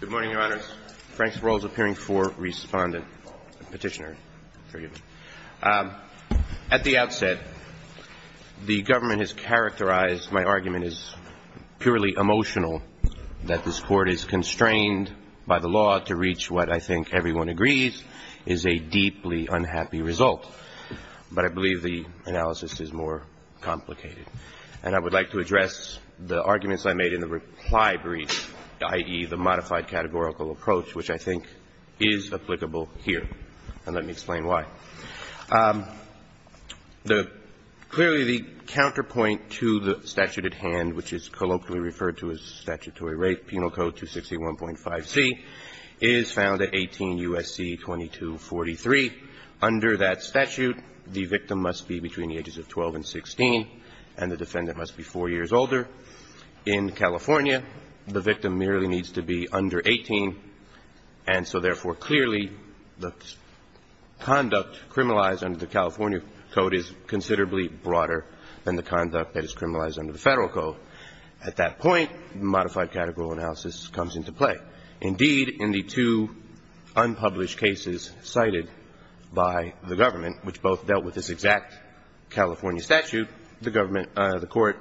Good morning, Your Honors. Frank Sparrow is appearing for Respondent. Petitioner, forgive me. At the outset, the government has characterized my argument as purely emotional, that this Court is constrained by the law to reach what I think everyone agrees is a deeply unhappy result. But I believe the analysis is more complicated. And I would like to address the arguments I made in the reply brief, i.e., the modified categorical approach, which I think is applicable here. And let me explain why. Clearly, the counterpoint to the statute at hand, which is colloquially referred to as statutory rape, Penal Code 261.5c, is found at 18 U.S.C. 2243. Under that statute, the victim must be between the ages of 12 and 16, and the defendant must be 4 years older. In California, the victim merely needs to be under 18. And so, therefore, clearly, the conduct criminalized under the California Code is considerably broader than the conduct that is criminalized under the Federal Code. At that point, modified categorical analysis comes into play. Indeed, in the two unpublished cases cited by the government, which both dealt with this exact California statute, the government, the Court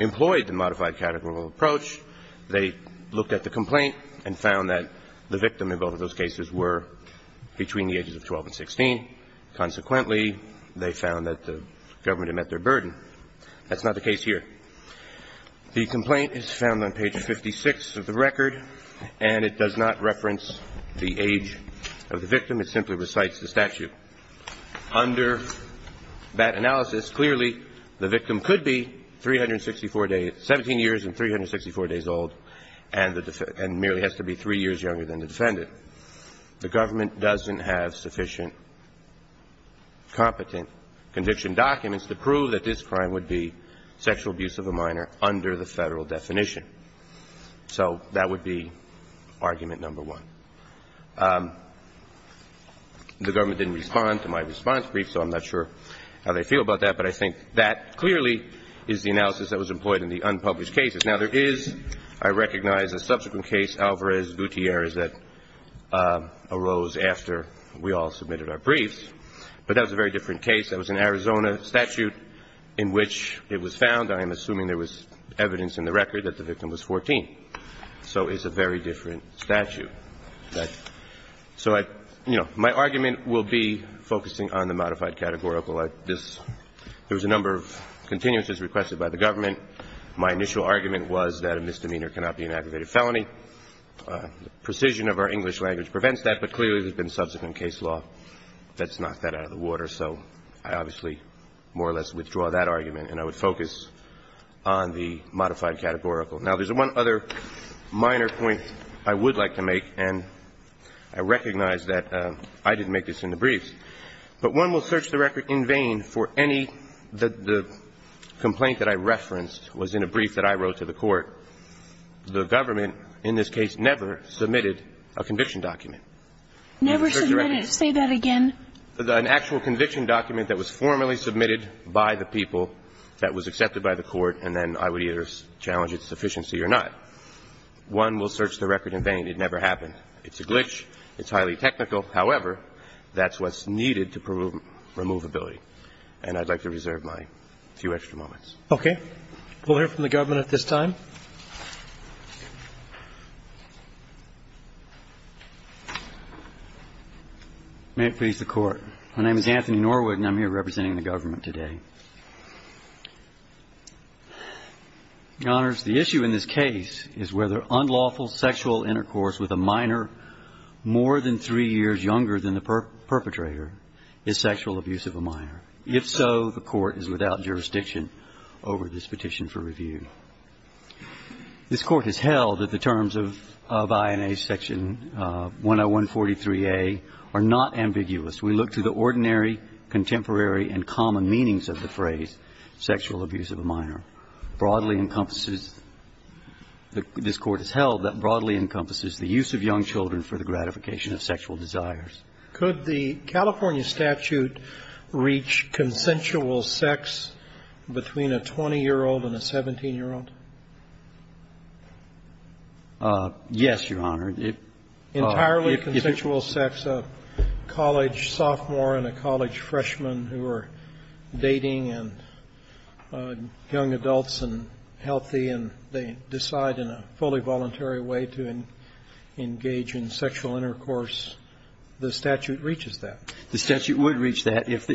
employed the modified categorical approach. They looked at the complaint and found that the victim in both of those cases were between the ages of 12 and 16. Consequently, they found that the government had met their burden. That's not the case here. The complaint is found on page 56 of the record, and it does not reference the age of the victim. It simply recites the statute. Under that analysis, clearly, the victim could be 364 days – 17 years and 364 days old, and the – and merely has to be 3 years younger than the defendant. The government doesn't have sufficient competent conviction documents to prove that this crime would be sexual abuse of a minor under the Federal definition. So that would be argument number one. The government didn't respond to my response brief, so I'm not sure how they feel about that, but I think that clearly is the analysis that was employed in the unpublished cases. Now, there is, I recognize, a subsequent case, Alvarez-Gutierrez, that arose after we all submitted our briefs. But that was a very different case. That was an Arizona statute in which it was found – I am assuming there was evidence in the record that the victim was 14. So it's a very different statute. So I – you know, my argument will be focusing on the modified categorical. There was a number of continuances requested by the government. My initial argument was that a misdemeanor cannot be an aggravated felony. The precision of our English language prevents that, but clearly, there's been subsequent case law that's knocked that out of the water. So I obviously more or less withdraw that argument, and I would focus on the modified categorical. Now, there's one other minor point I would like to make, and I recognize that I didn't make this in the briefs. But one will search the record in vain for any – the complaint that I referenced was in a brief that I wrote to the Court. The government, in this case, never submitted a conviction document. Never submitted. Say that again. An actual conviction document that was formally submitted by the people, that was accepted by the Court, and then I would either challenge its sufficiency or not. One will search the record in vain. It never happened. It's a glitch. It's highly technical. However, that's what's needed to remove ability. And I'd like to reserve my few extra moments. Okay. We'll hear from the government at this time. May it please the Court. My name is Anthony Norwood, and I'm here representing the government today. Your Honors, the issue in this case is whether unlawful sexual intercourse with a minor more than three years younger than the perpetrator is sexual abuse of a minor. If so, the Court is without jurisdiction over this petition for review. This Court has held that the terms of INA Section 10143A are not ambiguous. We look to the ordinary, contemporary, and common meanings of the phrase sexual abuse of a minor. Broadly encompasses – this Court has held that broadly encompasses the use of young children for the gratification of sexual desires. Could the California statute reach consensual sex between a 20-year-old and a 17-year-old? Yes, Your Honor. Entirely consensual sex, a college sophomore and a college freshman who are dating and young adults and healthy, and they decide in a fully voluntary way to engage in sexual intercourse, the statute reaches that. The statute would reach that if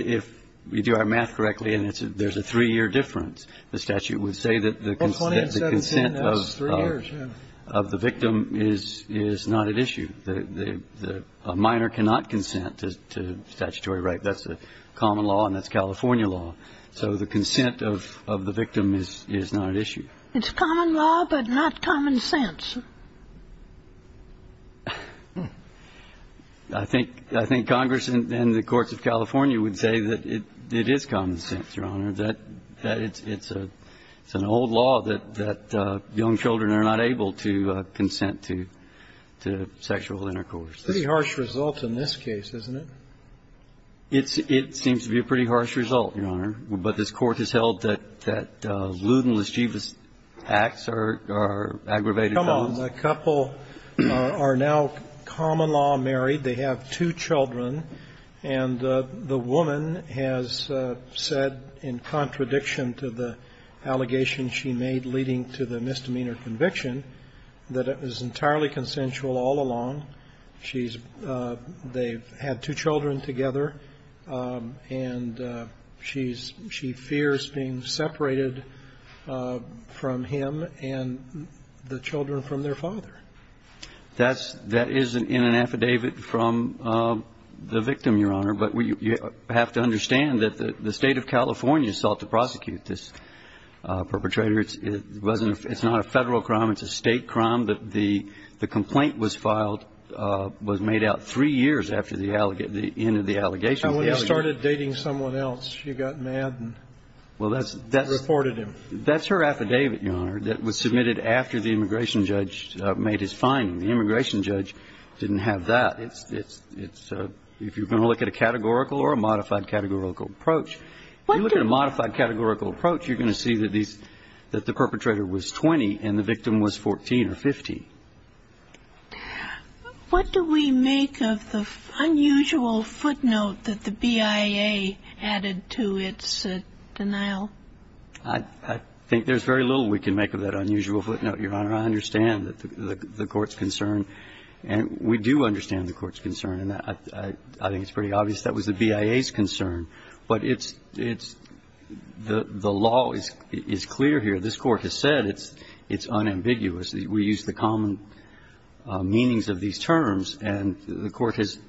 we do our math correctly and there's a three-year difference. The statute would say that the consent of the victim is not at issue. A minor cannot consent to statutory rape. That's a common law, and that's California law. So the consent of the victim is not at issue. It's common law but not common sense. I think – I think Congress and the courts of California would say that it is common sense, Your Honor, that it's an old law that young children are not able to consent to sexual intercourse. Pretty harsh result in this case, isn't it? It seems to be a pretty harsh result, Your Honor. But this Court has held that Luden and Laschewa's acts are aggravated. Come on. The couple are now common law married. They have two children, and the woman has said in contradiction to the allegation she made leading to the misdemeanor conviction that it was entirely consensual all along. She's – they've had two children together, and she's – she fears being separated from him and the children from their father. That's – that is in an affidavit from the victim, Your Honor, but you have to understand that the State of California sought to prosecute this perpetrator. It's not a Federal crime. It's a State crime. The complaint was filed – was made out three years after the end of the allegation. And when he started dating someone else, she got mad and reported him. Well, that's – that's her affidavit, Your Honor, that was submitted after the immigration judge made his finding. The immigration judge didn't have that. It's – it's – if you're going to look at a categorical or a modified categorical approach, if you look at a modified categorical approach, you're going to see that these – that the perpetrator was 20 and the victim was 14 or 15. What do we make of the unusual footnote that the BIA added to its denial? I think there's very little we can make of that unusual footnote, Your Honor. I understand the court's concern, and we do understand the court's concern, and I think it's pretty obvious that was the BIA's concern. But it's – it's – the law is clear here. This Court has said it's unambiguous. We use the common meanings of these terms, and the Court has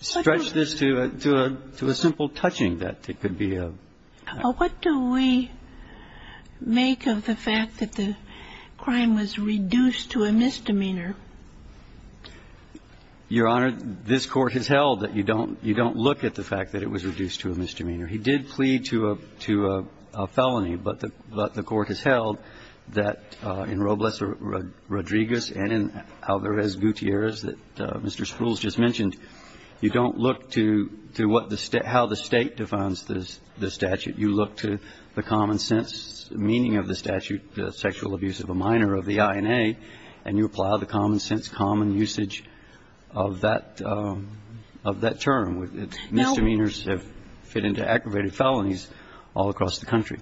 stretched this to a simple touching that it could be a – What do we make of the fact that the crime was reduced to a misdemeanor? Your Honor, this Court has held that you don't – you don't look at the fact that it was reduced to a misdemeanor. He did plead to a – to a felony, but the – but the Court has held that in Robles Rodriguez and in Alvarez Gutierrez that Mr. Sprules just mentioned, you don't look to – to what the – how the State defines the statute. You look to the common sense meaning of the statute, the sexual abuse of a minor of the INA, and you apply the common sense, common usage of that – of that term. Misdemeanors have fit into aggravated felonies all across the country.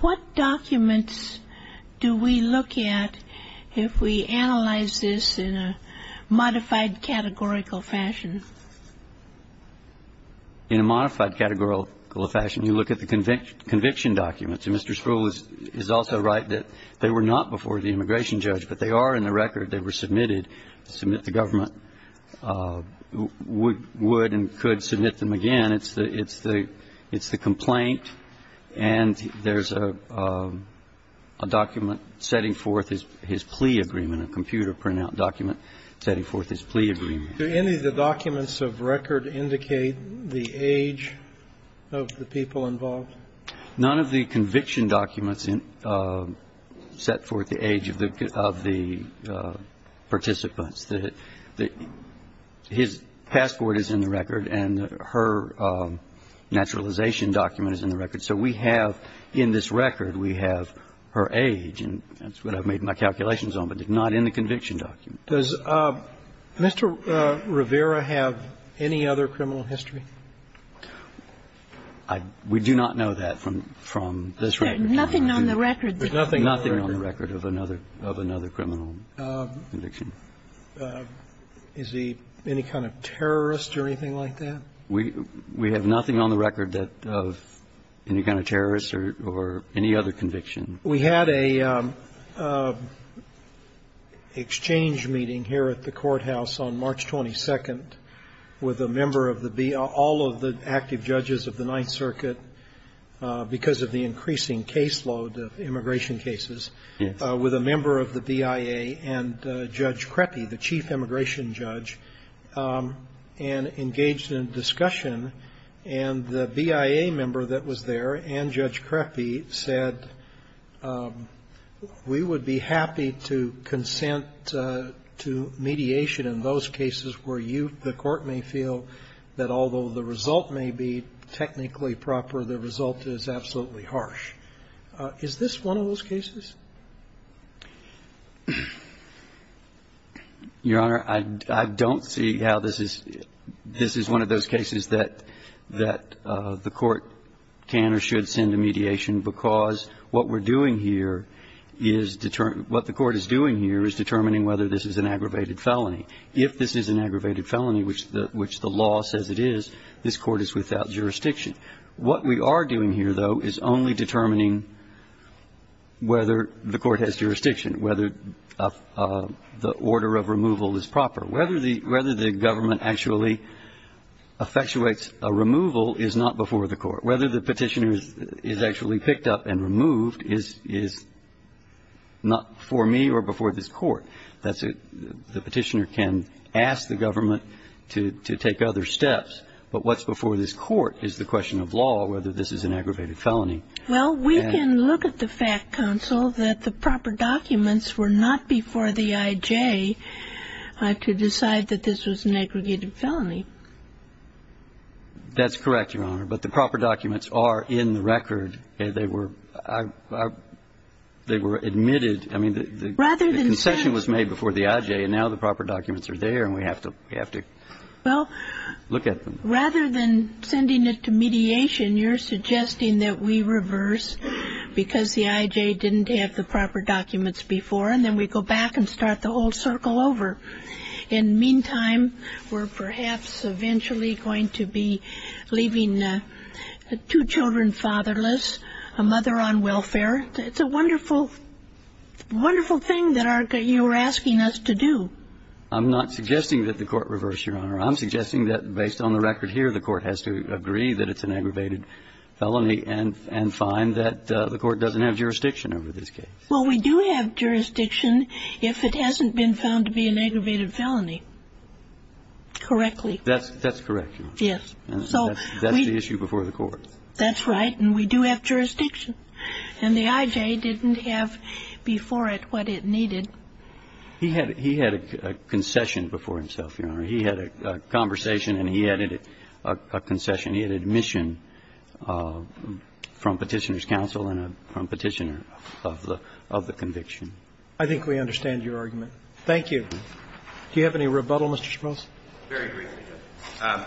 What documents do we look at if we analyze this in a modified categorical fashion? In a modified categorical fashion, you look at the conviction documents. Mr. Sprules is also right that they were not before the immigration judge, but they are in the record. They were submitted. Submit the government would and could submit them again. It's the – it's the complaint, and there's a document setting forth his plea agreement, a computer printout document setting forth his plea agreement. Do any of the documents of record indicate the age of the people involved? None of the conviction documents set forth the age of the – of the participants. The – his passport is in the record, and her naturalization document is in the record. So we have in this record, we have her age, and that's what I've made my calculations on, but it's not in the conviction document. Does Mr. Rivera have any other criminal history? I – we do not know that from – from this record. There's nothing on the record. There's nothing on the record. Nothing on the record of another – of another criminal conviction. Is he any kind of terrorist or anything like that? We – we have nothing on the record that – of any kind of terrorist or – or any other conviction. We had a exchange meeting here at the courthouse on March 22nd with a member of the BIA, all of the active judges of the Ninth Circuit, because of the increasing caseload of immigration cases, with a member of the BIA and Judge Creppy, the chief immigration judge, and engaged in a discussion, and the BIA member that was there and Judge Creppy said, we would be happy to consent to mediation in those cases where you – the Court may feel that although the result may be technically proper, the result is absolutely harsh. Is this one of those cases? Your Honor, I – I don't see how this is – this is one of those cases that – that the Court can or should send a mediation because what we're doing here is – what the Court is doing here is determining whether this is an aggravated felony. If this is an aggravated felony, which – which the law says it is, this Court is without jurisdiction. What we are doing here, though, is only determining whether the Court has jurisdiction, whether the order of removal is proper. Whether the – whether the government actually effectuates a removal is not before the Court. Whether the petitioner is actually picked up and removed is – is not before me or before this Court. That's a – the petitioner can ask the government to – to take other steps, but what's before this Court is the question of law, whether this is an aggravated felony. Well, we can look at the fact, counsel, that the proper documents were not before the IJ to decide that this was an aggregated felony. That's correct, Your Honor. But the proper documents are in the record. They were – they were admitted. I mean, the concession was made before the IJ, and now the proper documents are there, and we have to – we have to look at them. Well, rather than sending it to mediation, you're suggesting that we reverse because the IJ didn't have the proper documents before, and then we go back and start the whole circle over. In the meantime, we're perhaps eventually going to be leaving two children fatherless, a mother on welfare. It's a wonderful – wonderful thing that our – that you're asking us to do. I'm not suggesting that the Court reverse, Your Honor. I'm suggesting that based on the record here, the Court has to agree that it's an aggravated felony and – and find that the Court doesn't have jurisdiction over this case. Well, we do have jurisdiction if it hasn't been found to be an aggravated felony correctly. That's – that's correct, Your Honor. Yes. And that's the issue before the Court. That's right. And we do have jurisdiction. And the IJ didn't have before it what it needed. He had – he had a concession before himself, Your Honor. He had a conversation, and he added a concession. He had admission from Petitioner's counsel and from Petitioner of the conviction. I think we understand your argument. Thank you. Do you have any rebuttal, Mr. Schmitz? Very briefly, Your Honor.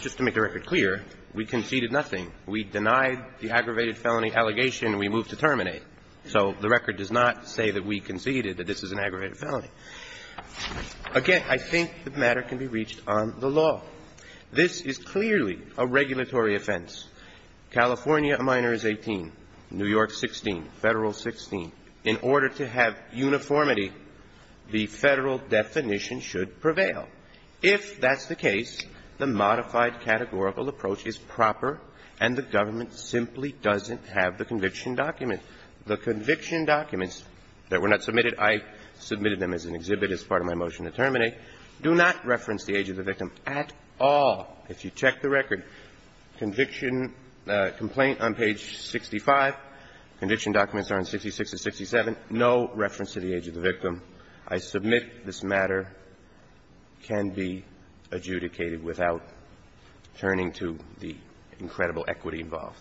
Just to make the record clear, we conceded nothing. We denied the aggravated felony allegation. We moved to terminate. So the record does not say that we conceded that this is an aggravated felony. Again, I think the matter can be reached on the law. This is clearly a regulatory offense. California, a minor is 18. New York, 16. Federal, 16. In order to have uniformity, the Federal definition should prevail. If that's the case, the modified categorical approach is proper, and the government simply doesn't have the conviction document. The conviction documents that were not submitted – I submitted them as an exhibit as part of my motion to terminate – do not reference the age of the victim at all. If you check the record, conviction complaint on page 65, conviction documents are on 66 to 67, no reference to the age of the victim. I submit this matter can be adjudicated without turning to the incredible equity involved.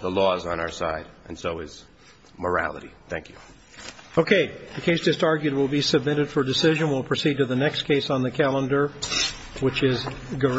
The law is on our side, and so is morality. Thank you. Okay. The case just argued will be submitted for decision. We'll proceed to the next case on the calendar, which is Garrett.